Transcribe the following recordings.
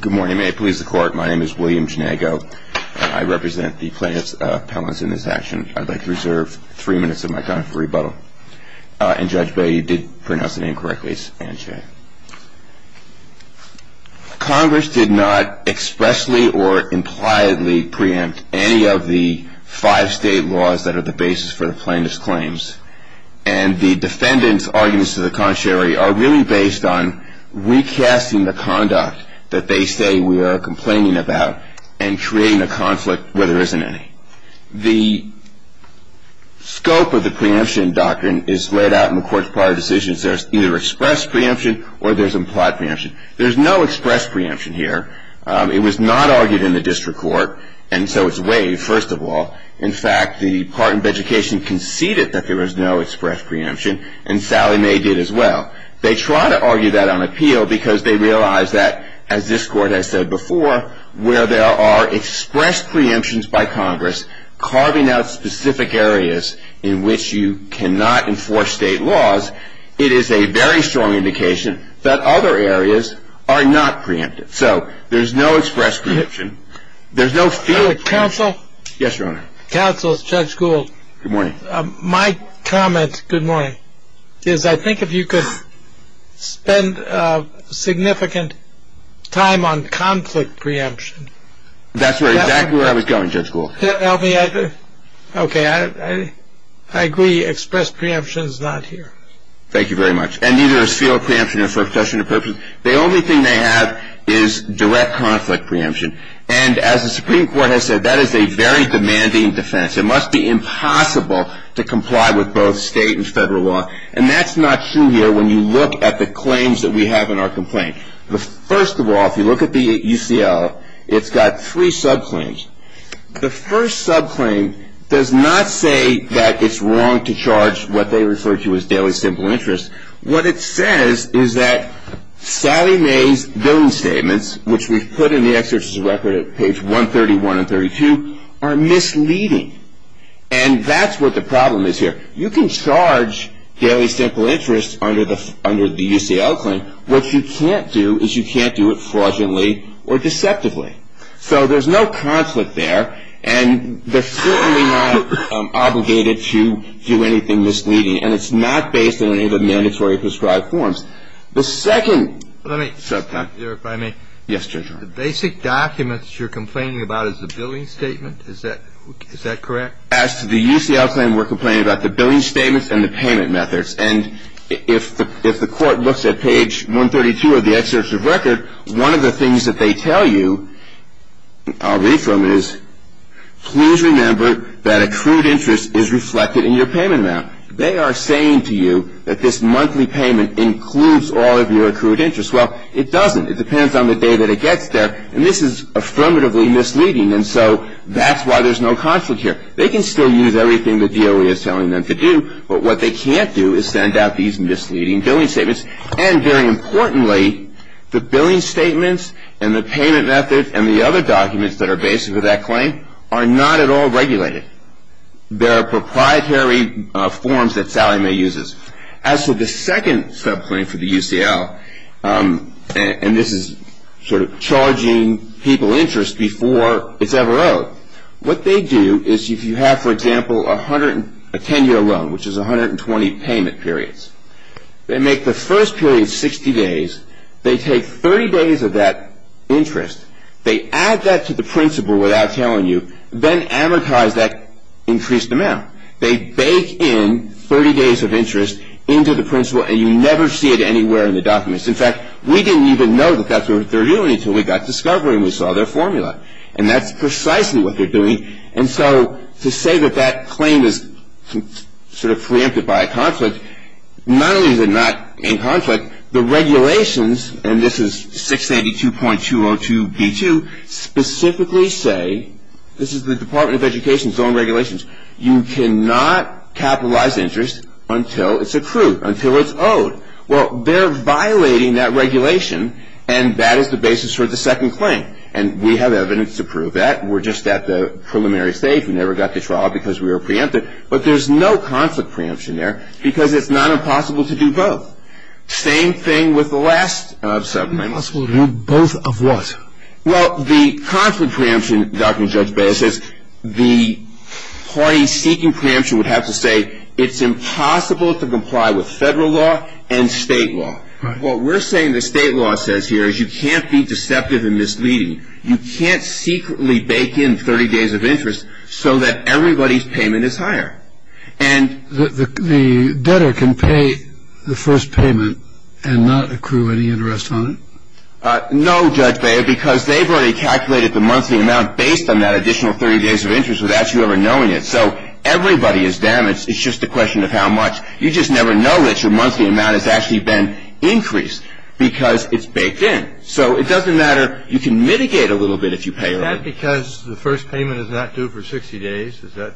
Good morning. May it please the court, my name is William Janago. I represent the plaintiff's appellants in this action. I'd like to reserve three minutes of my time for rebuttal. And Judge Bailey, you did pronounce the name correctly, it's Ann Chae. Congress did not expressly or impliedly preempt any of the five state laws that are the basis for the plaintiff's claims. And the defendant's arguments to the contrary are really based on recasting the conduct that they say we are complaining about and creating a conflict where there isn't any. The scope of the preemption doctrine is laid out in the court's prior decisions. There's either express preemption or there's implied preemption. There's no express preemption here. It was not argued in the district court, and so it's waived, first of all. In fact, the Department of Education conceded that there was no express preemption, and Sally May did as well. They try to argue that on appeal because they realize that, as this court has said before, where there are express preemptions by Congress carving out specific areas in which you cannot enforce state laws, it is a very strong indication that other areas are not preempted. So there's no express preemption. There's no field preemption. Counsel? Yes, Your Honor. Counsel, Judge Gould. Good morning. My comment, good morning, is I think if you could spend significant time on conflict preemption. That's exactly where I was going, Judge Gould. Okay. I agree. Express preemption is not here. Thank you very much. And neither is field preemption. The only thing they have is direct conflict preemption. And as the Supreme Court has said, that is a very demanding defense. It must be impossible to comply with both state and federal law. And that's not true here when you look at the claims that we have in our complaint. First of all, if you look at the UCL, it's got three subclaims. The first subclaim does not say that it's wrong to charge what they refer to as daily simple interest. What it says is that Sally May's billing statements, which we've put in the exercise record at page 131 and 132, are misleading. And that's what the problem is here. You can charge daily simple interest under the UCL claim. What you can't do is you can't do it fraudulently or deceptively. So there's no conflict there. And they're certainly not obligated to do anything misleading. And it's not based on any of the mandatory prescribed forms. The second subclaim. Let me stop there, if I may. Yes, Judge Arnold. The basic documents you're complaining about is the billing statement? Is that correct? As to the UCL claim, we're complaining about the billing statements and the payment methods. And if the court looks at page 132 of the excerpt of record, one of the things that they tell you, I'll read from it, is, please remember that accrued interest is reflected in your payment amount. They are saying to you that this monthly payment includes all of your accrued interest. Well, it doesn't. It depends on the day that it gets there. And this is affirmatively misleading. And so that's why there's no conflict here. They can still use everything the DOE is telling them to do. But what they can't do is send out these misleading billing statements. And very importantly, the billing statements and the payment methods and the other documents that are based with that claim are not at all regulated. They're proprietary forms that Sallie Mae uses. As to the second subclaim for the UCL, and this is sort of charging people interest before it's ever owed, what they do is if you have, for example, a 10-year loan, which is 120 payment periods, they make the first period 60 days. They take 30 days of that interest. They add that to the principle without telling you, then amortize that increased amount. They bake in 30 days of interest into the principle, and you never see it anywhere in the documents. In fact, we didn't even know that that's what they were doing until we got to discovering we saw their formula. And that's precisely what they're doing. And so to say that that claim is sort of preempted by a conflict, not only is it not in conflict, the regulations, and this is 682.202b2, specifically say, this is the Department of Education's own regulations, you cannot capitalize interest until it's accrued, until it's owed. Well, they're violating that regulation, and that is the basis for the second claim. And we have evidence to prove that. We're just at the preliminary stage. We never got to trial because we were preempted. But there's no conflict preemption there because it's not impossible to do both. Same thing with the last subclaim. It's impossible to do both of what? Well, the conflict preemption, Dr. Judge Bader says, the parties seeking preemption would have to say it's impossible to comply with federal law and state law. What we're saying the state law says here is you can't be deceptive and misleading. You can't secretly bake in 30 days of interest so that everybody's payment is higher. The debtor can pay the first payment and not accrue any interest on it? No, Judge Bader, because they've already calculated the monthly amount based on that additional 30 days of interest without you ever knowing it. So everybody is damaged. It's just a question of how much. You just never know that your monthly amount has actually been increased because it's baked in. So it doesn't matter. You can mitigate a little bit if you pay. Is that because the first payment is not due for 60 days? Is that?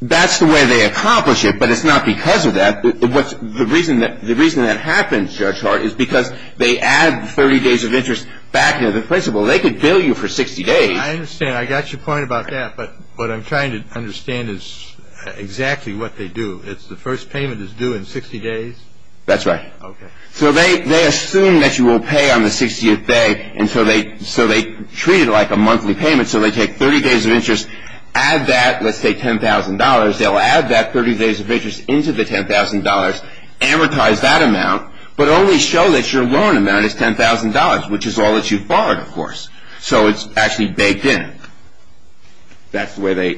That's the way they accomplish it, but it's not because of that. The reason that happens, Judge Hart, is because they add 30 days of interest back into the principle. They could bill you for 60 days. I understand. I got your point about that. But what I'm trying to understand is exactly what they do. It's the first payment is due in 60 days? That's right. Okay. So they assume that you will pay on the 60th day, and so they treat it like a monthly payment. So they take 30 days of interest, add that, let's say $10,000. They'll add that 30 days of interest into the $10,000, amortize that amount, but only show that your loan amount is $10,000, which is all that you've borrowed, of course. So it's actually baked in. That's where they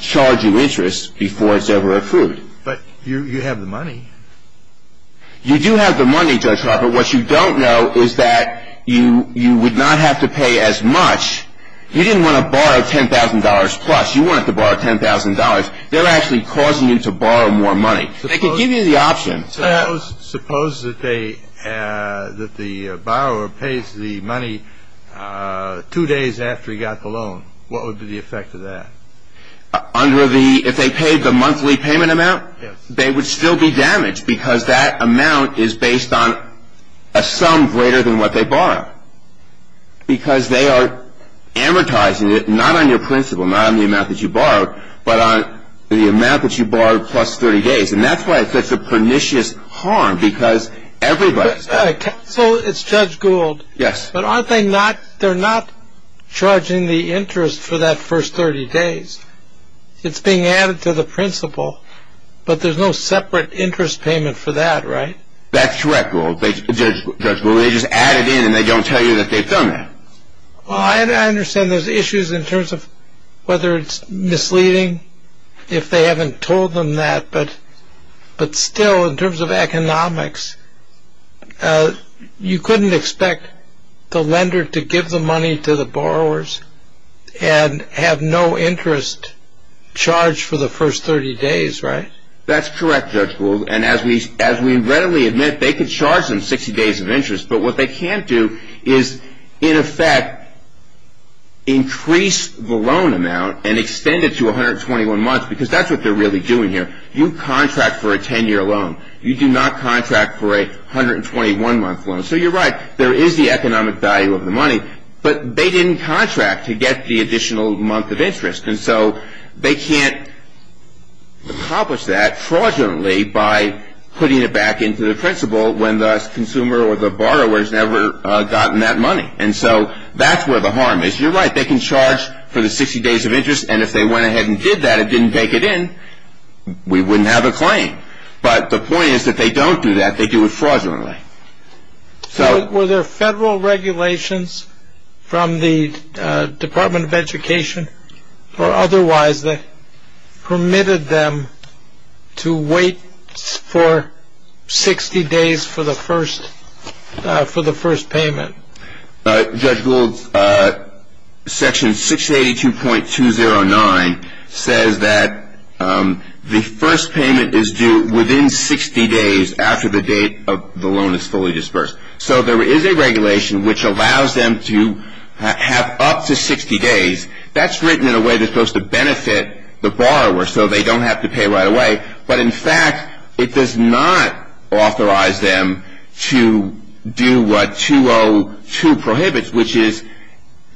charge you interest before it's ever accrued. But you have the money. You do have the money, Judge Harper. What you don't know is that you would not have to pay as much. You didn't want to borrow $10,000 plus. You wanted to borrow $10,000. They're actually causing you to borrow more money. They could give you the option. Suppose that the borrower pays the money two days after he got the loan. What would be the effect of that? If they paid the monthly payment amount, they would still be damaged because that amount is based on a sum greater than what they borrowed because they are amortizing it not on your principal, not on the amount that you borrowed, but on the amount that you borrowed plus 30 days. And that's why it's such a pernicious harm because everybody's got it. So it's Judge Gould. Yes. But aren't they not charging the interest for that first 30 days? It's being added to the principal, but there's no separate interest payment for that, right? That's correct, Judge Gould. They just add it in and they don't tell you that they've done that. Well, I understand there's issues in terms of whether it's misleading if they haven't told them that. But still, in terms of economics, you couldn't expect the lender to give the money to the borrowers and have no interest charged for the first 30 days, right? That's correct, Judge Gould. And as we readily admit, they could charge them 60 days of interest. But what they can't do is, in effect, increase the loan amount and extend it to 121 months because that's what they're really doing here. You contract for a 10-year loan. You do not contract for a 121-month loan. So you're right, there is the economic value of the money, but they didn't contract to get the additional month of interest. And so they can't accomplish that fraudulently by putting it back into the principal when the consumer or the borrower has never gotten that money. And so that's where the harm is. You're right, they can charge for the 60 days of interest, and if they went ahead and did that and didn't take it in, we wouldn't have a claim. But the point is, if they don't do that, they do it fraudulently. So were there federal regulations from the Department of Education or otherwise that permitted them to wait for 60 days for the first payment? Judge Gould, Section 682.209 says that the first payment is due within 60 days after the date of the loan is fully dispersed. So there is a regulation which allows them to have up to 60 days. That's written in a way that's supposed to benefit the borrower so they don't have to pay right away. But in fact, it does not authorize them to do what 202 prohibits, which is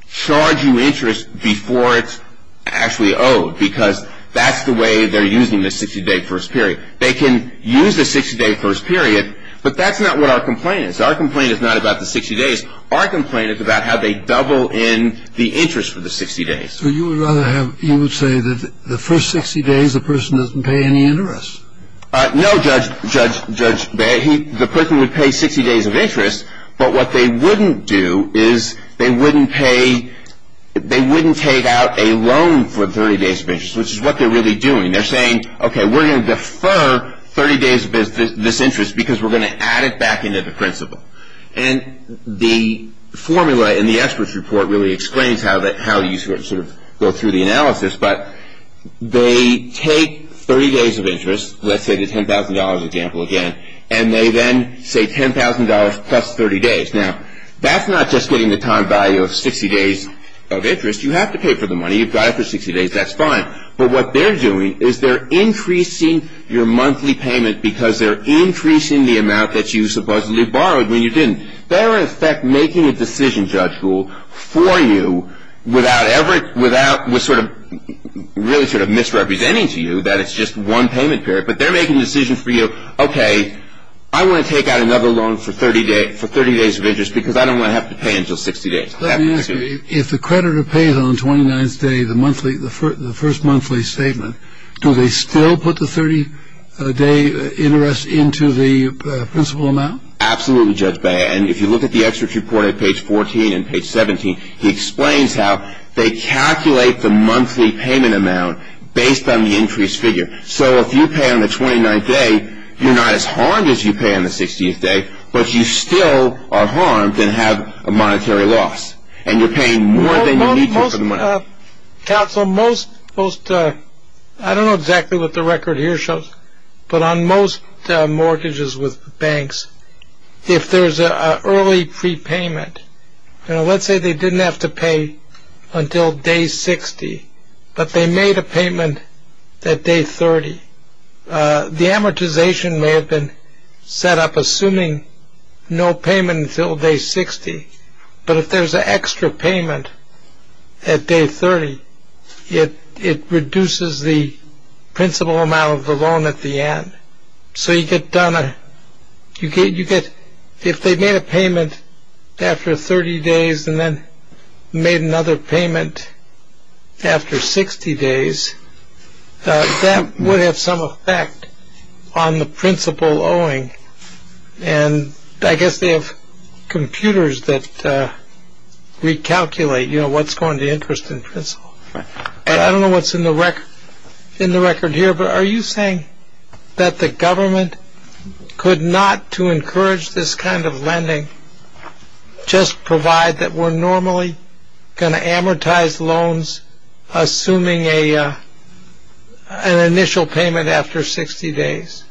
charge you interest before it's actually owed because that's the way they're using the 60-day first period. They can use the 60-day first period, but that's not what our complaint is. Our complaint is not about the 60 days. Our complaint is about how they double in the interest for the 60 days. So you would say that the first 60 days the person doesn't pay any interest? No, Judge. The person would pay 60 days of interest, but what they wouldn't do is they wouldn't take out a loan for 30 days of interest, which is what they're really doing. They're saying, okay, we're going to defer 30 days of this interest because we're going to add it back into the principle. And the formula in the experts report really explains how you sort of go through the analysis, but they take 30 days of interest, let's say the $10,000 example again, and they then say $10,000 plus 30 days. Now, that's not just getting the time value of 60 days of interest. You have to pay for the money. You've got it for 60 days. That's fine. But what they're doing is they're increasing your monthly payment because they're increasing the amount that you supposedly borrowed when you didn't. They're, in effect, making a decision, Judge Gould, for you without ever – without really sort of misrepresenting to you that it's just one payment period, but they're making a decision for you, okay, I want to take out another loan for 30 days of interest because I don't want to have to pay until 60 days. Let me ask you, if the creditor pays on the 29th day, the first monthly statement, do they still put the 30-day interest into the principal amount? Absolutely, Judge Bea. And if you look at the experts' report at page 14 and page 17, he explains how they calculate the monthly payment amount based on the increased figure. So if you pay on the 29th day, you're not as harmed as you pay on the 16th day, but you still are harmed and have a monetary loss, and you're paying more than you need to for the money. Counsel, most – I don't know exactly what the record here shows, but on most mortgages with banks, if there's an early prepayment, let's say they didn't have to pay until day 60, but they made a payment at day 30. The amortization may have been set up assuming no payment until day 60, but if there's an extra payment at day 30, it reduces the principal amount of the loan at the end. So you get done a – you get – if they made a payment after 30 days and then made another payment after 60 days, that would have some effect on the principal owing. And I guess they have computers that recalculate, you know, what's going to interest in principal. But I don't know what's in the record here, but are you saying that the government could not, to encourage this kind of lending, just provide that we're normally going to amortize loans assuming an initial payment after 60 days?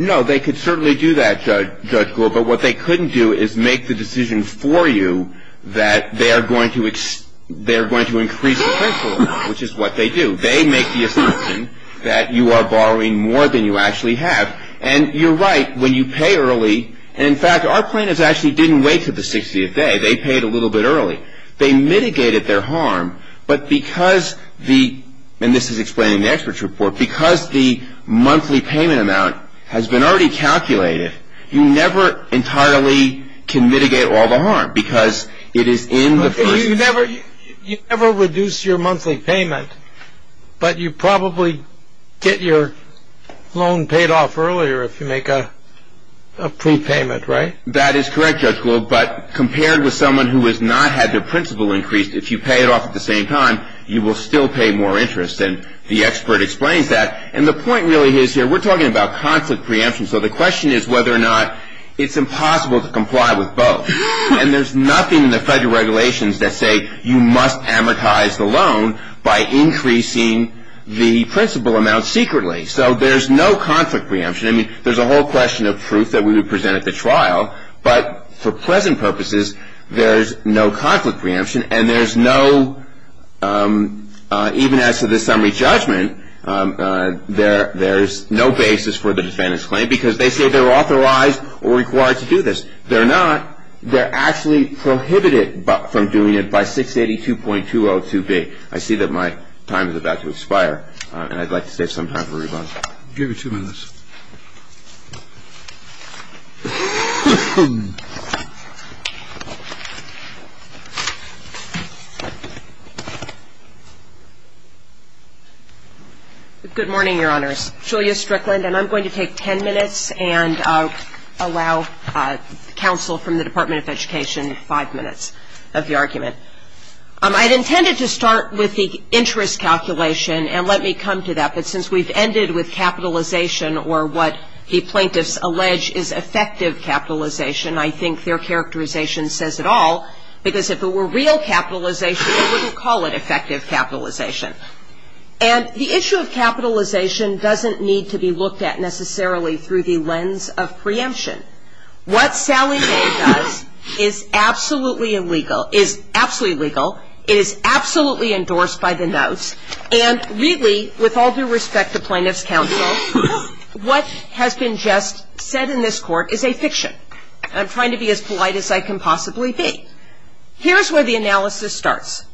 No, they could certainly do that, Judge Gould, but what they couldn't do is make the decision for you that they are going to increase the principal amount, which is what they do. They make the assumption that you are borrowing more than you actually have. And you're right when you pay early. And, in fact, our plaintiffs actually didn't wait until the 60th day. They paid a little bit early. They mitigated their harm, but because the – and this is explained in the experts report – because the monthly payment amount has been already calculated, you never entirely can mitigate all the harm because it is in the first – if you make a pre-payment, right? That is correct, Judge Gould. But compared with someone who has not had their principal increased, if you pay it off at the same time, you will still pay more interest. And the expert explains that. And the point really is here, we're talking about conflict preemption. So the question is whether or not it's impossible to comply with both. And there's nothing in the federal regulations that say you must amortize the loan by increasing the principal amount secretly. So there's no conflict preemption. I mean, there's a whole question of proof that we would present at the trial. But for present purposes, there's no conflict preemption. And there's no – even as to the summary judgment, there's no basis for the defendant's claim because they say they're authorized or required to do this. They're not. They're actually prohibited from doing it by 682.202B. I see that my time is about to expire, and I'd like to save some time for rebuttal. I'll give you two minutes. Good morning, Your Honors. Julia Strickland. And I'm going to take 10 minutes and allow counsel from the Department of Education five minutes of the argument. I'd intended to start with the interest calculation, and let me come to that. But since we've ended with capitalization or what the plaintiffs allege is effective capitalization, I think their characterization says it all. Because if it were real capitalization, they wouldn't call it effective capitalization. And the issue of capitalization doesn't need to be looked at necessarily through the lens of preemption. What Sally Day does is absolutely legal. It is absolutely endorsed by the notes. And really, with all due respect to plaintiff's counsel, what has been just said in this court is a fiction. I'm trying to be as polite as I can possibly be. Here's where the analysis starts.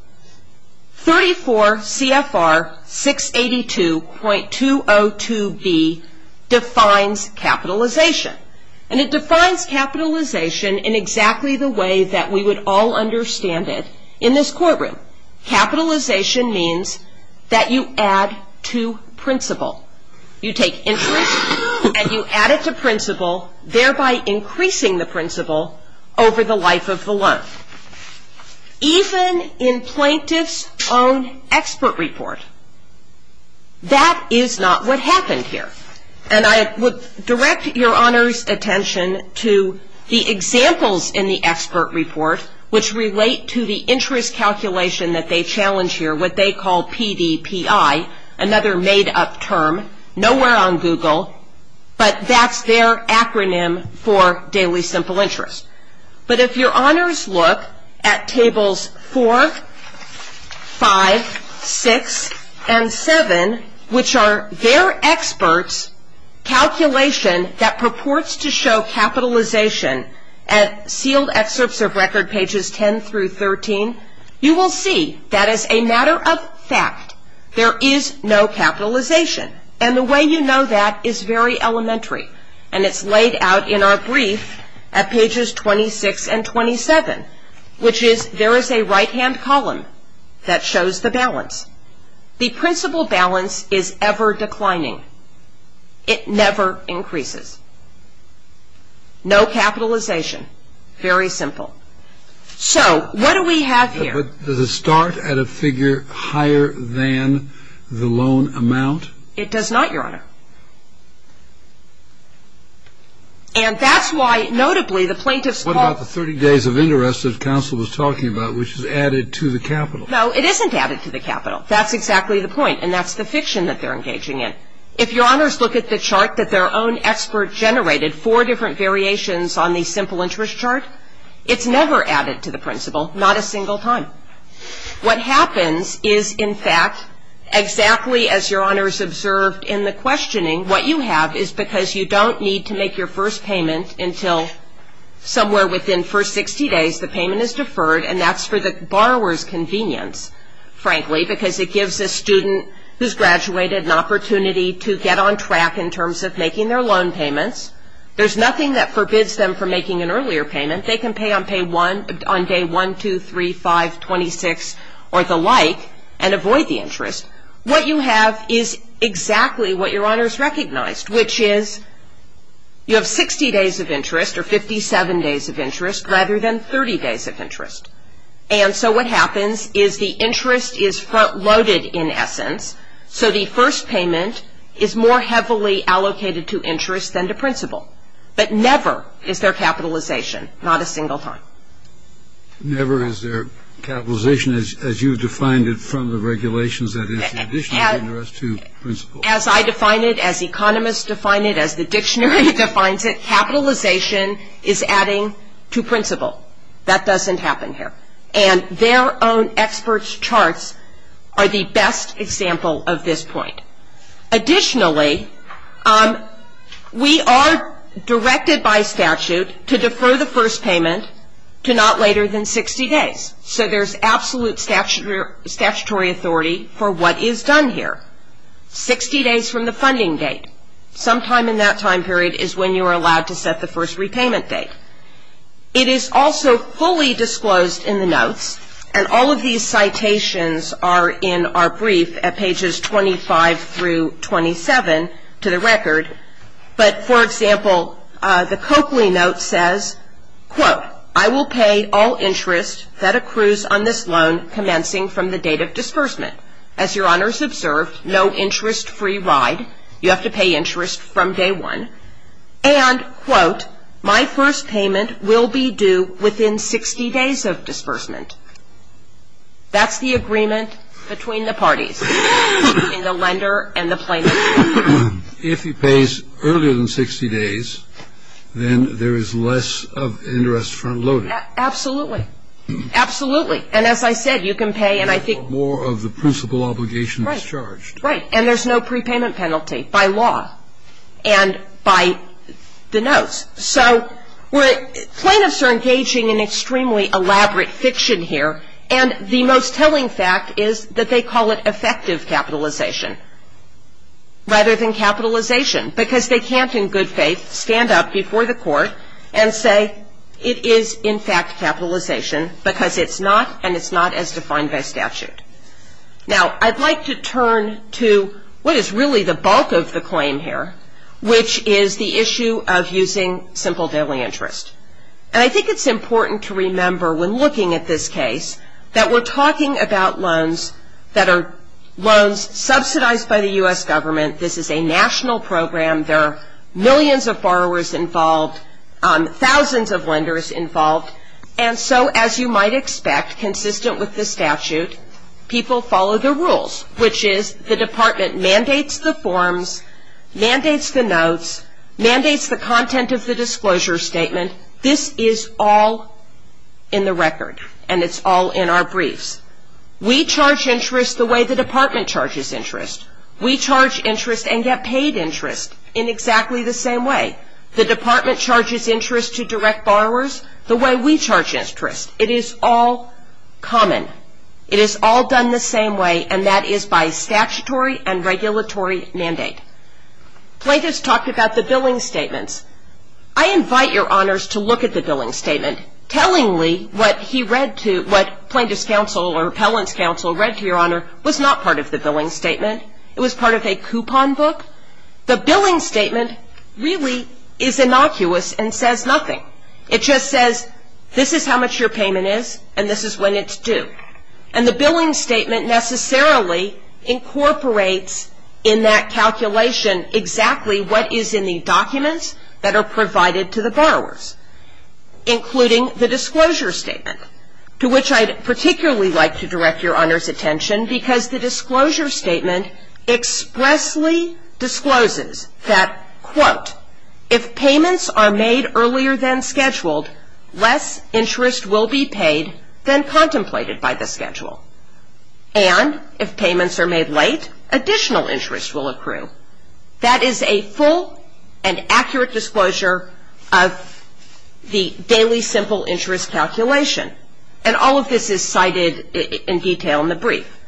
34 CFR 682.202B defines capitalization. And it defines capitalization in exactly the way that we would all understand it in this courtroom. Capitalization means that you add to principle. You take interest and you add it to principle, thereby increasing the principle over the life of the loan. Even in plaintiff's own expert report, that is not what happened here. And I would direct your Honor's attention to the examples in the expert report, which relate to the interest calculation that they challenge here, what they call PDPI, another made-up term. Nowhere on Google, but that's their acronym for Daily Simple Interest. But if your Honors look at Tables 4, 5, 6, and 7, which are their experts' calculation that purports to show capitalization at sealed excerpts of record pages 10 through 13, you will see that as a matter of fact, there is no capitalization. And the way you know that is very elementary. And it's laid out in our brief at pages 26 and 27, which is there is a right-hand column that shows the balance. The principle balance is ever declining. It never increases. No capitalization. Very simple. So what do we have here? But does it start at a figure higher than the loan amount? It does not, Your Honor. And that's why, notably, the plaintiffs call What about the 30 days of interest that counsel was talking about, which is added to the capital? No, it isn't added to the capital. That's exactly the point. And that's the fiction that they're engaging in. If your Honors look at the chart that their own expert generated, four different variations on the simple interest chart, it's never added to the principle, not a single time. What happens is, in fact, exactly as Your Honors observed in the questioning, what you have is because you don't need to make your first payment until somewhere within the first 60 days, the payment is deferred, and that's for the borrower's convenience, frankly, because it gives a student who's graduated an opportunity to get on track in terms of making their loan payments. There's nothing that forbids them from making an earlier payment. They can pay on day 1, 2, 3, 5, 26, or the like, and avoid the interest. What you have is exactly what Your Honors recognized, which is you have 60 days of interest or 57 days of interest rather than 30 days of interest. And so what happens is the interest is front-loaded, in essence, so the first payment is more heavily allocated to interest than to principle. But never is there capitalization, not a single time. Never is there capitalization as you've defined it from the regulations, that is, the addition of interest to principle. As I define it, as economists define it, as the dictionary defines it, capitalization is adding to principle. That doesn't happen here. And their own experts' charts are the best example of this point. Additionally, we are directed by statute to defer the first payment to not later than 60 days. So there's absolute statutory authority for what is done here, 60 days from the funding date. Sometime in that time period is when you are allowed to set the first repayment date. It is also fully disclosed in the notes, and all of these citations are in our brief at pages 25 through 27 to the record. But, for example, the Coakley note says, quote, I will pay all interest that accrues on this loan commencing from the date of disbursement. As Your Honors observed, no interest-free ride. You have to pay interest from day one. And, quote, my first payment will be due within 60 days of disbursement. That's the agreement between the parties, between the lender and the plaintiff. If he pays earlier than 60 days, then there is less of interest front-loaded. Absolutely. Absolutely. And as I said, you can pay, and I think more of the principle obligation is charged. Right. And there's no prepayment penalty by law. And by the notes. So plaintiffs are engaging in extremely elaborate fiction here, and the most telling fact is that they call it effective capitalization rather than capitalization, because they can't, in good faith, stand up before the court and say it is, in fact, capitalization, because it's not, and it's not as defined by statute. Now, I'd like to turn to what is really the bulk of the claim here, which is the issue of using simple daily interest. And I think it's important to remember, when looking at this case, that we're talking about loans that are loans subsidized by the U.S. government. This is a national program. There are millions of borrowers involved, thousands of lenders involved. And so, as you might expect, consistent with the statute, people follow the rules, which is the department mandates the forms, mandates the notes, mandates the content of the disclosure statement. This is all in the record, and it's all in our briefs. We charge interest the way the department charges interest. We charge interest and get paid interest in exactly the same way. The department charges interest to direct borrowers the way we charge interest. It is all common. It is all done the same way, and that is by statutory and regulatory mandate. Plaintiffs talked about the billing statements. I invite your honors to look at the billing statement. Tellingly, what he read to, what plaintiff's counsel or appellant's counsel read to your honor, was not part of the billing statement. It was part of a coupon book. The billing statement really is innocuous and says nothing. It just says, this is how much your payment is, and this is when it's due. And the billing statement necessarily incorporates in that calculation exactly what is in the documents that are provided to the borrowers, including the disclosure statement, to which I'd particularly like to direct your honors' attention, because the disclosure statement expressly discloses that, quote, if payments are made earlier than scheduled, less interest will be paid than contemplated by the schedule. And if payments are made late, additional interest will accrue. That is a full and accurate disclosure of the daily simple interest calculation. And all of this is cited in detail in the brief.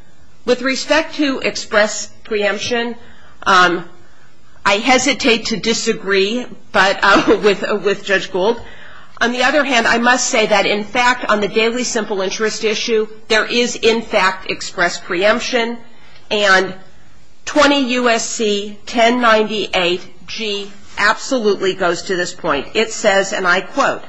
With respect to express preemption, I hesitate to disagree with Judge Gould. On the other hand, I must say that, in fact, on the daily simple interest issue, there is, in fact, express preemption. And 20 U.S.C. 1098G absolutely goes to this point. It says, and I quote,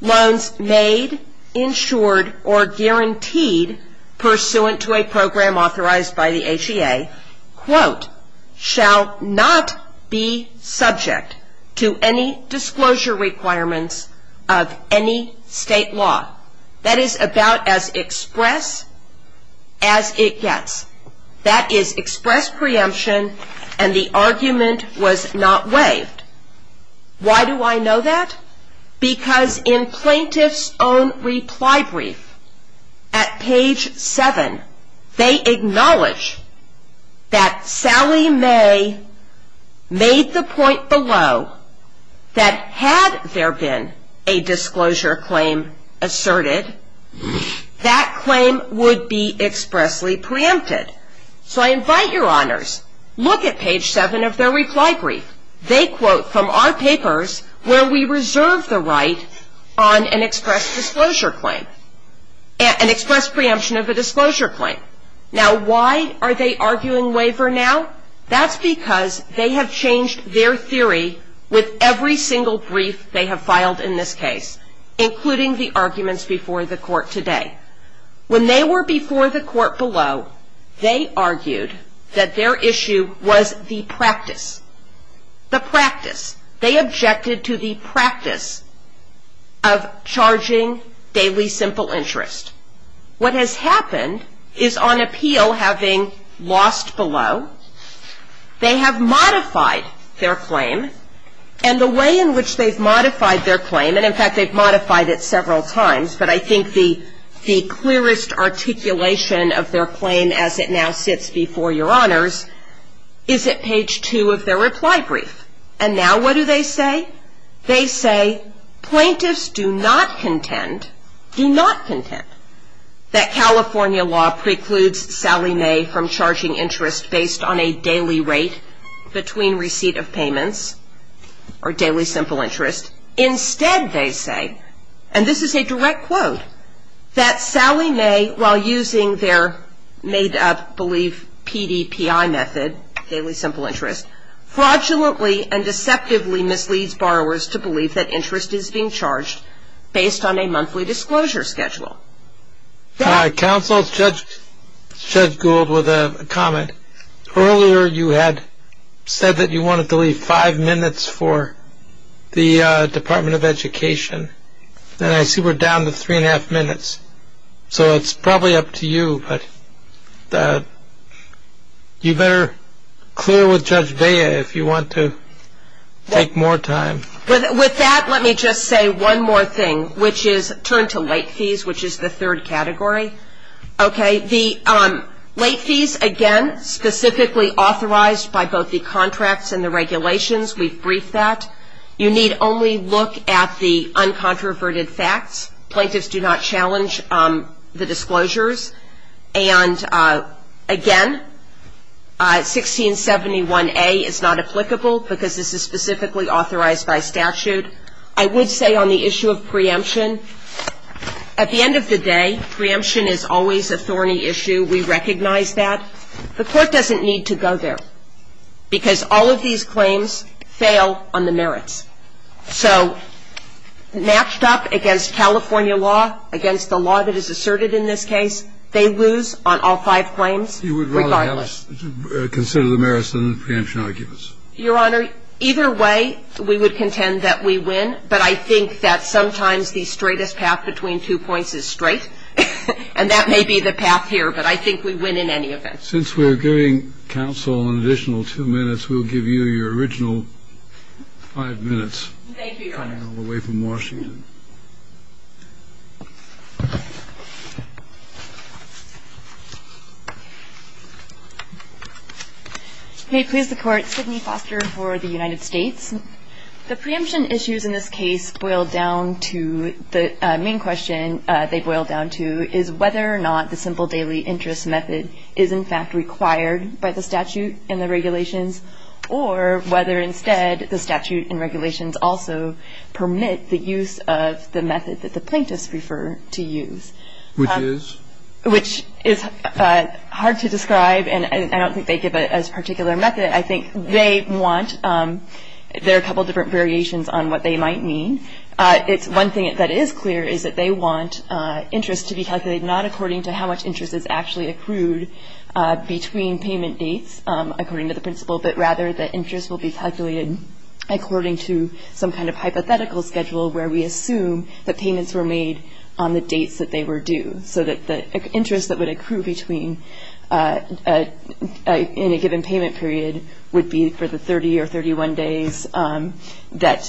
loans made, insured, or guaranteed pursuant to a program authorized by the HEA, quote, shall not be subject to any disclosure requirements of any state law. That is about as express as it gets. That is express preemption, and the argument was not waived. Why do I know that? Because in plaintiff's own reply brief at page 7, they acknowledge that Sally May made the point below that had there been a disclosure claim asserted, that claim would be expressly preempted. So I invite your honors, look at page 7 of their reply brief. They quote from our papers where we reserve the right on an express disclosure claim, an express preemption of a disclosure claim. Now, why are they arguing waiver now? That's because they have changed their theory with every single brief they have filed in this case, including the arguments before the court today. When they were before the court below, they argued that their issue was the practice. The practice. They objected to the practice of charging daily simple interest. What has happened is on appeal having lost below, they have modified their claim, and the way in which they've modified their claim, and in fact they've modified it several times, but I think the clearest articulation of their claim as it now sits before your honors is at page 2 of their reply brief. And now what do they say? They say plaintiffs do not contend, do not contend, that California law precludes Sally May from charging interest based on a daily rate between receipt of payments, or daily simple interest. Instead, they say, and this is a direct quote, that Sally May, while using their made-up belief PDPI method, daily simple interest, fraudulently and deceptively misleads borrowers to believe that interest is being charged based on a monthly disclosure schedule. Counsel, Judge Gould with a comment. Earlier you had said that you wanted to leave five minutes for the Department of Education, and I see we're down to three and a half minutes, so it's probably up to you, but you better clear with Judge Bea if you want to take more time. With that, let me just say one more thing, which is turn to late fees, which is the third category. Okay. The late fees, again, specifically authorized by both the contracts and the regulations. We've briefed that. You need only look at the uncontroverted facts. Plaintiffs do not challenge the disclosures. And, again, 1671A is not applicable because this is specifically authorized by statute. I would say on the issue of preemption, at the end of the day, preemption is always a thorny issue. We recognize that. The Court doesn't need to go there because all of these claims fail on the merits. So matched up against California law, against the law that is asserted in this case, they lose on all five claims regardless. You would rather consider the merits than the preemption arguments. Your Honor, either way, we would contend that we win. But I think that sometimes the straightest path between two points is straight. And that may be the path here, but I think we win in any event. Since we're giving counsel an additional two minutes, we'll give you your original five minutes. Thank you, Your Honor. Coming all the way from Washington. May it please the Court. Sydney Foster for the United States. The preemption issues in this case boil down to the main question they boil down to is whether or not the simple daily interest method is, in fact, required by the statute and the regulations, or whether instead the statute and regulations also permit the use of the method that the plaintiffs refer to use. Which is? Which is hard to describe, and I don't think they give it as a particular method. I think they want their couple different variations on what they might mean. It's one thing that is clear is that they want interest to be calculated not according to how much interest is actually accrued between payment dates, according to the principle that rather the interest will be calculated according to some kind of hypothetical schedule where we assume that payments were made on the dates that they were due. So that the interest that would accrue between in a given payment period would be for the 30 or 31 days that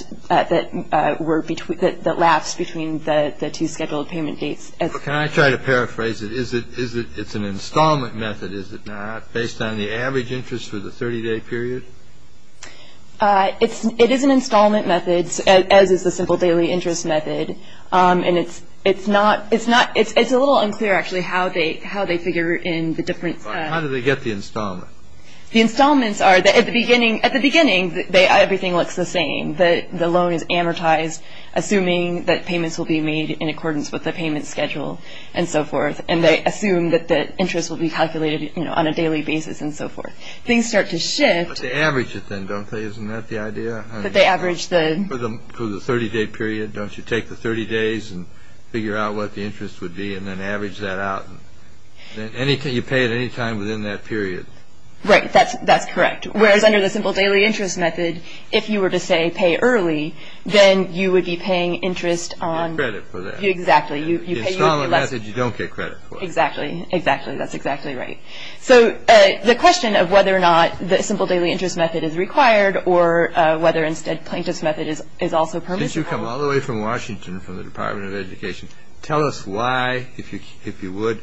were between, that lapsed between the two scheduled payment dates. Can I try to paraphrase it? Is it, is it, it's an installment method, is it not? Based on the average interest for the 30-day period? It's, it is an installment method, as is the simple daily interest method. And it's, it's not, it's not, it's a little unclear actually how they, how they figure in the different. How do they get the installment? The installments are, at the beginning, at the beginning, they, everything looks the same. The loan is amortized, assuming that payments will be made in accordance with the payment schedule and so forth. And they assume that the interest will be calculated, you know, on a daily basis and so forth. Things start to shift. But they average it then, don't they? Isn't that the idea? But they average the... For the, for the 30-day period, don't you take the 30 days and figure out what the interest would be and then average that out. Anything, you pay at any time within that period. Right, that's, that's correct. Whereas under the simple daily interest method, if you were to say pay early, then you would be paying interest on... You get credit for that. Exactly. You pay... The installment method, you don't get credit for it. Exactly, exactly. That's exactly right. So the question of whether or not the simple daily interest method is required or whether instead plaintiff's method is also permitted... Since you come all the way from Washington, from the Department of Education, tell us why, if you would,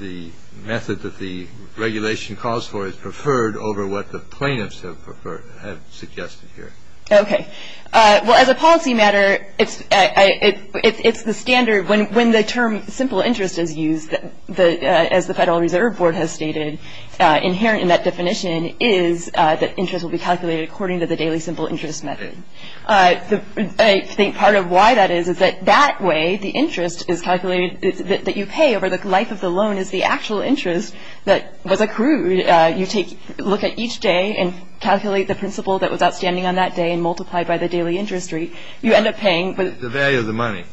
the method that the regulation calls for is preferred over what the plaintiffs have preferred, have suggested here. Okay. Well, as a policy matter, it's the standard. When the term simple interest is used, as the Federal Reserve Board has stated, inherent in that definition is that interest will be calculated according to the daily simple interest method. I think part of why that is is that that way the interest is calculated, that you pay over the life of the loan is the actual interest that was accrued. You take, look at each day and calculate the principal that was outstanding on that day and multiply it by the daily interest rate. You end up paying... The value of the money.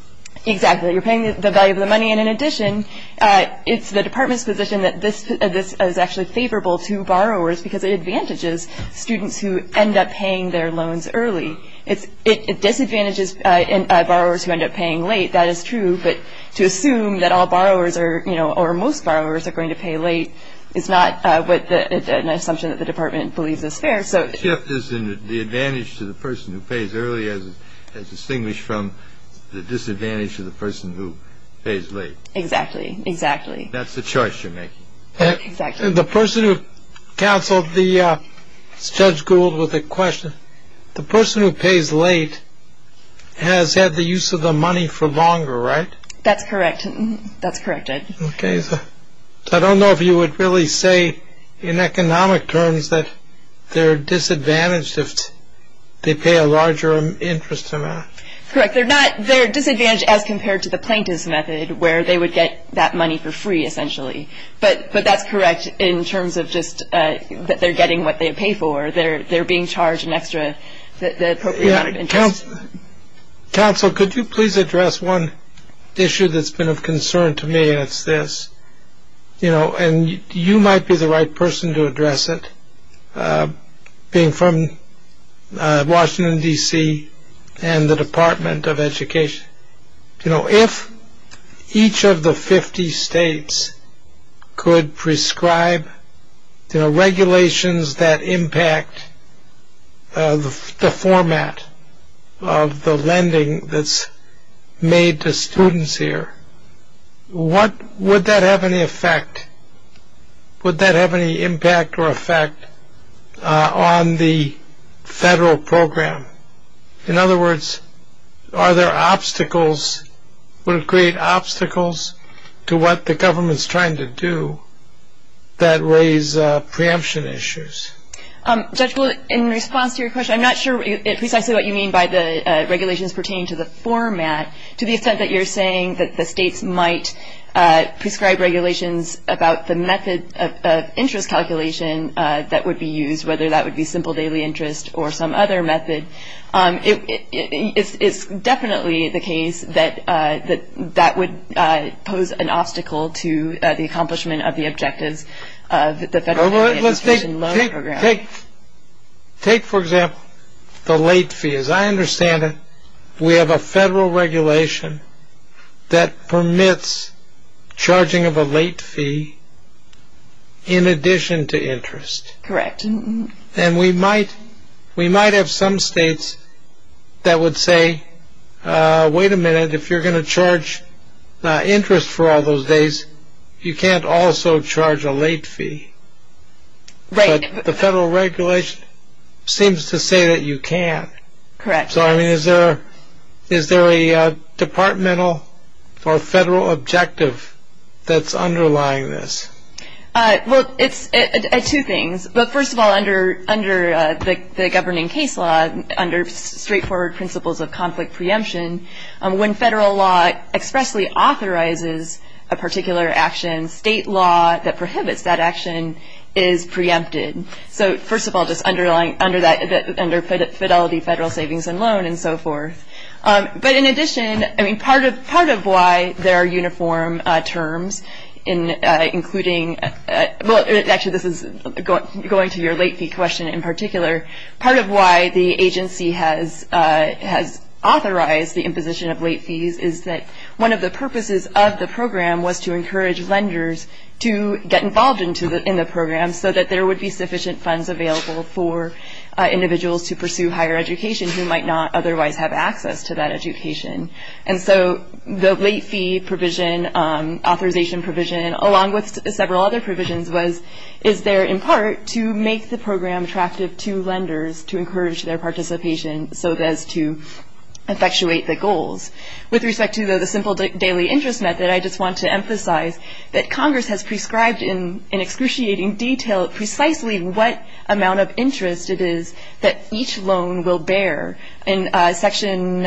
Exactly. You're paying the value of the money, and in addition, it's the Department's position that this is actually favorable to borrowers because it advantages students who end up paying their loans early. It disadvantages borrowers who end up paying late. That is true, but to assume that all borrowers or most borrowers are going to pay late is not an assumption that the Department believes is fair. The shift is in the advantage to the person who pays early as distinguished from the disadvantage to the person who pays late. Exactly. Exactly. That's the choice you're making. Exactly. The person who counseled the Judge Gould with the question, the person who pays late has had the use of the money for longer, right? That's correct. That's corrected. Okay, so I don't know if you would really say in economic terms that they're disadvantaged if they pay a larger interest amount. Correct. They're disadvantaged as compared to the plaintiff's method where they would get that money for free essentially, but that's correct in terms of just that they're getting what they pay for. They're being charged an extra, the appropriate amount of interest. Counsel, could you please address one issue that's been of concern to me, and it's this, you know, and you might be the right person to address it, being from Washington, D.C., and the Department of Education. You know, if each of the 50 states could prescribe, you know, regulations that impact the format of the lending that's made to students here, would that have any effect, would that have any impact or effect on the federal program? In other words, are there obstacles, would it create obstacles to what the government's trying to do that raise preemption issues? Judge Gould, in response to your question, I'm not sure precisely what you mean by the regulations pertaining to the format to the extent that you're saying that the states might prescribe regulations about the method of interest calculation that would be used, whether that would be simple daily interest or some other method. It's definitely the case that that would pose an obstacle to the accomplishment of the objectives of the federal loan program. Take, for example, the late fee. As I understand it, we have a federal regulation that permits charging of a late fee in addition to interest. Correct. And we might have some states that would say, wait a minute, if you're going to charge interest for all those days, you can't also charge a late fee. Right. The federal regulation seems to say that you can. Correct. So, I mean, is there a departmental or federal objective that's underlying this? Well, it's two things. But first of all, under the governing case law, under straightforward principles of conflict preemption, when federal law expressly authorizes a particular action, state law that prohibits that action is preempted. So, first of all, just under fidelity federal savings and loan and so forth. But in addition, I mean, part of why there are uniform terms including, well, actually this is going to your late fee question in particular, part of why the agency has authorized the imposition of late fees is that one of the purposes of the program was to encourage lenders to get involved in the program so that there would be sufficient funds available for individuals to pursue higher education who might not otherwise have access to that education. And so the late fee provision, authorization provision, along with several other provisions, is there in part to make the program attractive to lenders to encourage their participation so as to effectuate the goals. With respect to the simple daily interest method, I just want to emphasize that Congress has prescribed in excruciating detail precisely what amount of interest it is that each loan will bear. And Section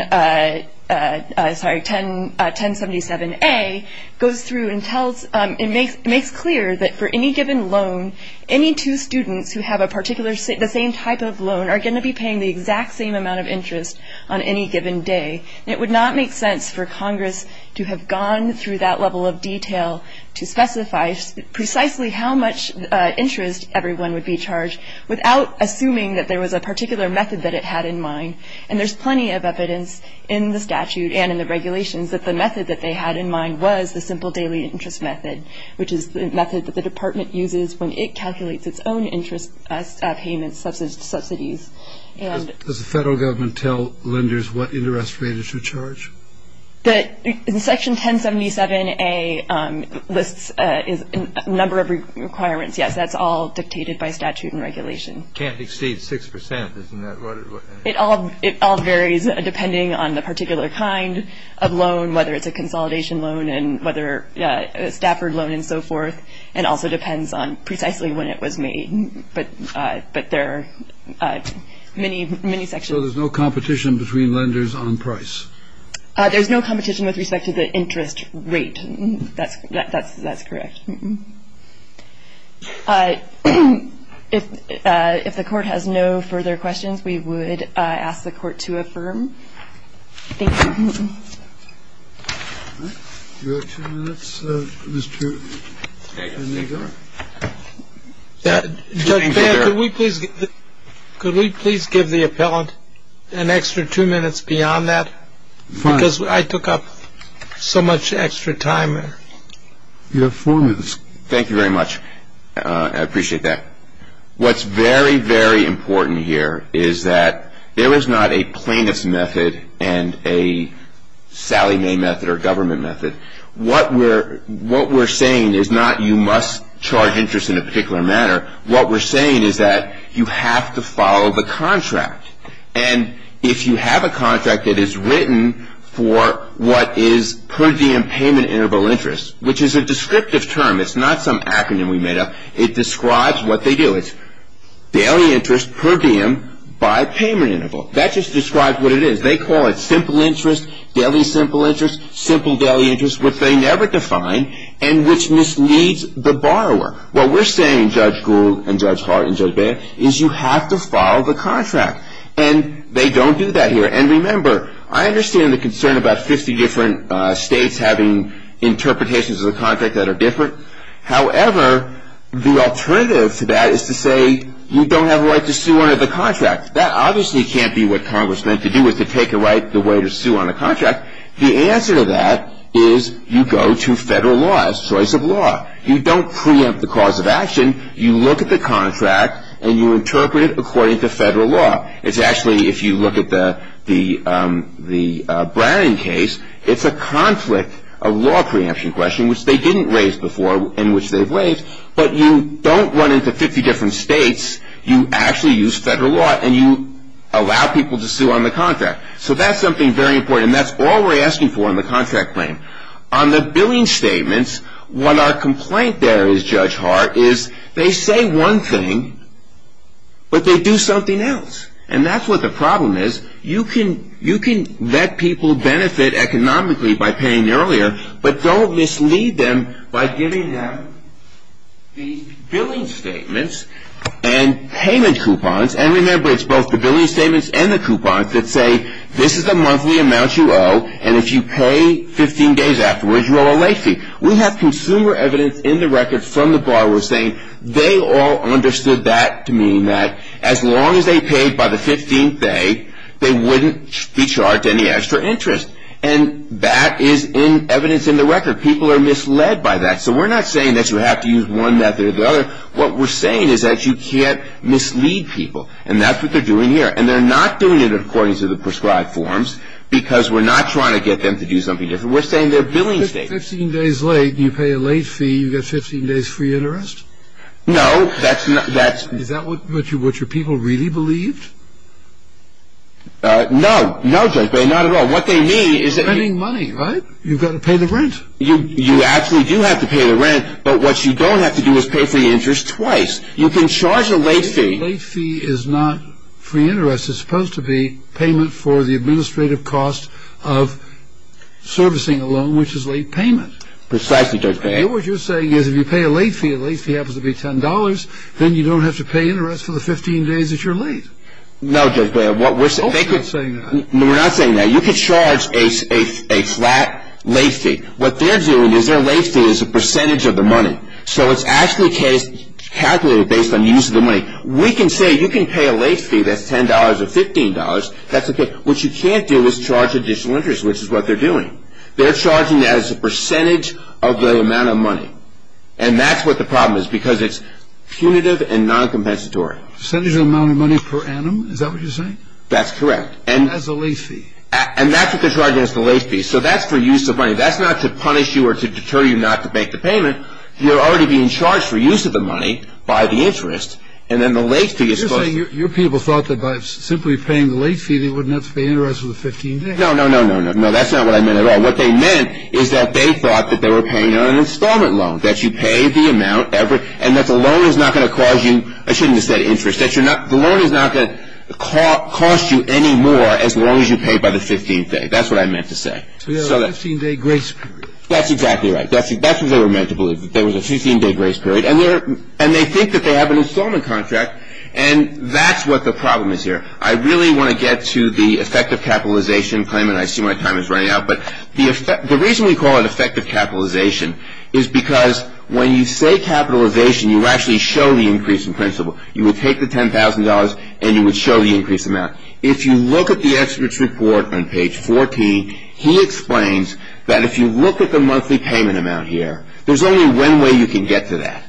1077A goes through and makes clear that for any given loan, any two students who have the same type of loan are going to be paying the exact same amount of interest on any given day. It would not make sense for Congress to have gone through that level of detail to specify precisely how much interest everyone would be charged without assuming that there was a particular method that it had in mind. And there's plenty of evidence in the statute and in the regulations that the method that they had in mind was the simple daily interest method, which is the method that the Department uses when it calculates its own interest payments, subsidies. Does the Federal Government tell lenders what interest rate is to charge? In Section 1077A lists a number of requirements. Yes, that's all dictated by statute and regulation. Can't exceed six percent, isn't that what it was? It all varies depending on the particular kind of loan, whether it's a consolidation loan, and whether a Stafford loan and so forth, and also depends on precisely when it was made. But there are many, many sections. So there's no competition between lenders on price? There's no competition with respect to the interest rate. That's correct. If the Court has no further questions, we would ask the Court to affirm. Thank you. You have two minutes, Mr. Negar. Judge Baird, could we please give the appellant an extra two minutes beyond that? Because I took up so much extra time. You have four minutes. Thank you very much. I appreciate that. What's very, very important here is that there is not a plaintiff's method and a Sallie Mae method or government method. What we're saying is not you must charge interest in a particular manner. What we're saying is that you have to follow the contract. And if you have a contract that is written for what is per diem payment interval interest, which is a descriptive term. It's not some acronym we made up. It describes what they do. It's daily interest per diem by payment interval. That just describes what it is. They call it simple interest, daily simple interest, simple daily interest, which they never define and which misleads the borrower. What we're saying, Judge Gould and Judge Hart and Judge Baird, is you have to follow the contract. And they don't do that here. And remember, I understand the concern about 50 different states having interpretations of the contract that are different. However, the alternative to that is to say you don't have a right to sue under the contract. That obviously can't be what Congress meant to do, is to take away the right to sue under the contract. The answer to that is you go to federal laws, choice of law. You don't preempt the cause of action. You look at the contract, and you interpret it according to federal law. It's actually, if you look at the Browning case, it's a conflict of law preemption question, which they didn't raise before, and which they've raised. But you don't run into 50 different states. You actually use federal law, and you allow people to sue on the contract. So that's something very important, and that's all we're asking for in the contract claim. On the billing statements, what our complaint there is, Judge Hart, is they say one thing, but they do something else. And that's what the problem is. You can let people benefit economically by paying earlier, but don't mislead them by giving them these billing statements and payment coupons. And remember, it's both the billing statements and the coupons that say this is the monthly amount you owe, and if you pay 15 days afterwards, you owe a late fee. We have consumer evidence in the record from the borrower saying they all understood that, meaning that as long as they paid by the 15th day, they wouldn't be charged any extra interest. And that is in evidence in the record. People are misled by that. So we're not saying that you have to use one method or the other. What we're saying is that you can't mislead people, and that's what they're doing here. And they're not doing it according to the prescribed forms because we're not trying to get them to do something different. We're saying they're billing statements. Fifteen days late, you pay a late fee, you get 15 days free interest? No, that's not – Is that what your people really believed? No, no, Judge, not at all. What they mean is that – You're spending money, right? You've got to pay the rent. You actually do have to pay the rent, but what you don't have to do is pay for the interest twice. You can charge a late fee. A late fee is not free interest. It's supposed to be payment for the administrative cost of servicing a loan, which is late payment. Precisely, Judge Bale. What you're saying is if you pay a late fee, a late fee happens to be $10, then you don't have to pay interest for the 15 days that you're late. No, Judge Bale, what we're saying – No, we're not saying that. You can charge a flat late fee. What they're doing is their late fee is a percentage of the money, so it's actually calculated based on the use of the money. We can say you can pay a late fee that's $10 or $15. That's okay. What you can't do is charge additional interest, which is what they're doing. They're charging as a percentage of the amount of money, and that's what the problem is because it's punitive and non-compensatory. Percentage of the amount of money per annum? Is that what you're saying? That's correct. As a late fee. And that's what they're charging as the late fee. So that's for use of money. That's not to punish you or to deter you not to make the payment. You're already being charged for use of the money by the interest, and then the late fee is supposed to – You're saying your people thought that by simply paying the late fee, they wouldn't have to pay interest for the 15 days. No, no, no, no, no. No, that's not what I meant at all. What they meant is that they thought that they were paying on an installment loan, that you pay the amount every – and that the loan is not going to cause you – I shouldn't have said interest. The loan is not going to cost you any more as long as you pay by the 15th day. That's what I meant to say. So you have a 15-day grace period. That's exactly right. That's what they were meant to believe, that there was a 15-day grace period. And they think that they have an installment contract, and that's what the problem is here. I really want to get to the effective capitalization claim, and I see my time is running out. But the reason we call it effective capitalization is because when you say capitalization, you actually show the increase in principle. You would take the $10,000, and you would show the increased amount. If you look at the expert's report on page 14, he explains that if you look at the monthly payment amount here, there's only one way you can get to that.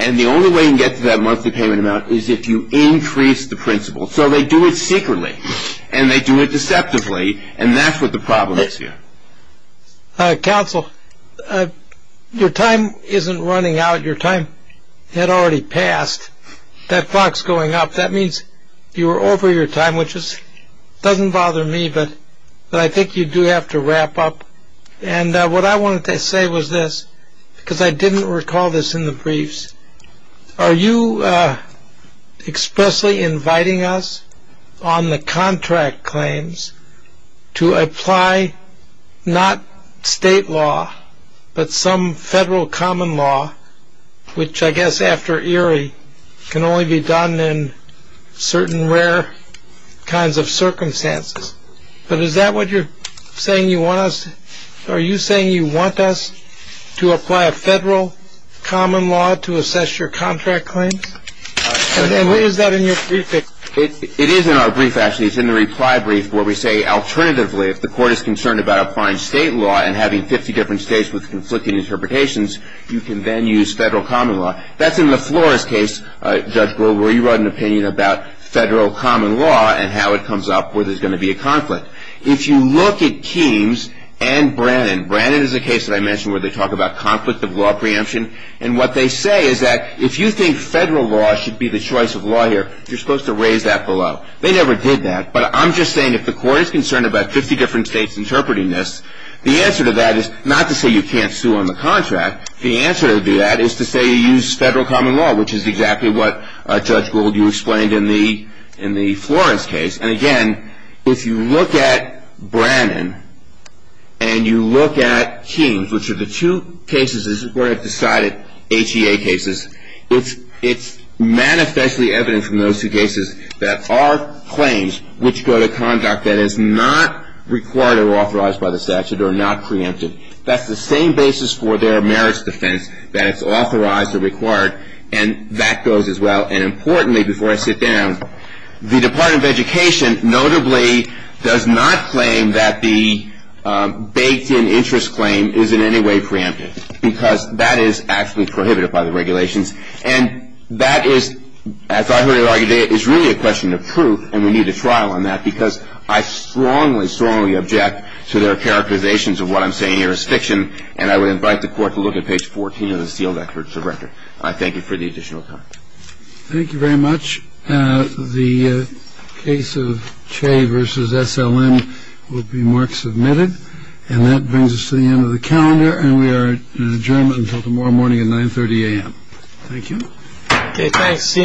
And the only way you can get to that monthly payment amount is if you increase the principle. So they do it secretly, and they do it deceptively, and that's what the problem is here. Counsel, your time isn't running out. Your time had already passed. That clock's going up. That means you are over your time, which doesn't bother me, but I think you do have to wrap up. And what I wanted to say was this, because I didn't recall this in the briefs. Are you expressly inviting us on the contract claims to apply not state law, but some federal common law, which I guess after Erie can only be done in certain rare kinds of circumstances? But is that what you're saying you want us? Are you saying you want us to apply a federal common law to assess your contract claims? And where is that in your briefing? It is in our brief, actually. It's in the reply brief where we say alternatively, if the court is concerned about applying state law and having 50 different states with conflicting interpretations, you can then use federal common law. That's in the Flores case, Judge Goldberg, where you wrote an opinion about federal common law and how it comes up where there's going to be a conflict. If you look at Keams and Brannon, Brannon is a case that I mentioned where they talk about conflict of law preemption, and what they say is that if you think federal law should be the choice of law here, you're supposed to raise that below. They never did that, but I'm just saying if the court is concerned about 50 different states interpreting this, the answer to that is not to say you can't sue on the contract. The answer to that is to say you use federal common law, which is exactly what, Judge Goldberg, you explained in the Flores case. And, again, if you look at Brannon and you look at Keams, which are the two cases, this is where I've decided, HEA cases, it's manifestly evident from those two cases that are claims which go to conduct that is not required or authorized by the statute or not preempted. That's the same basis for their merits defense, that it's authorized or required, and that goes as well. And, importantly, before I sit down, the Department of Education notably does not claim that the baked-in interest claim is in any way preempted because that is actually prohibited by the regulations. And that is, as I heard it argued, is really a question of proof, and we need a trial on that, because I strongly, strongly object to their characterizations of what I'm saying here as fiction, and I would invite the court to look at page 14 of the sealed records of record. I thank you for the additional time. Thank you very much. The case of Che versus SLM will be mark-submitted. And that brings us to the end of the calendar, and we are in adjournment until tomorrow morning at 930 a.m. Thank you. Okay, thanks. See you in conference. All rise.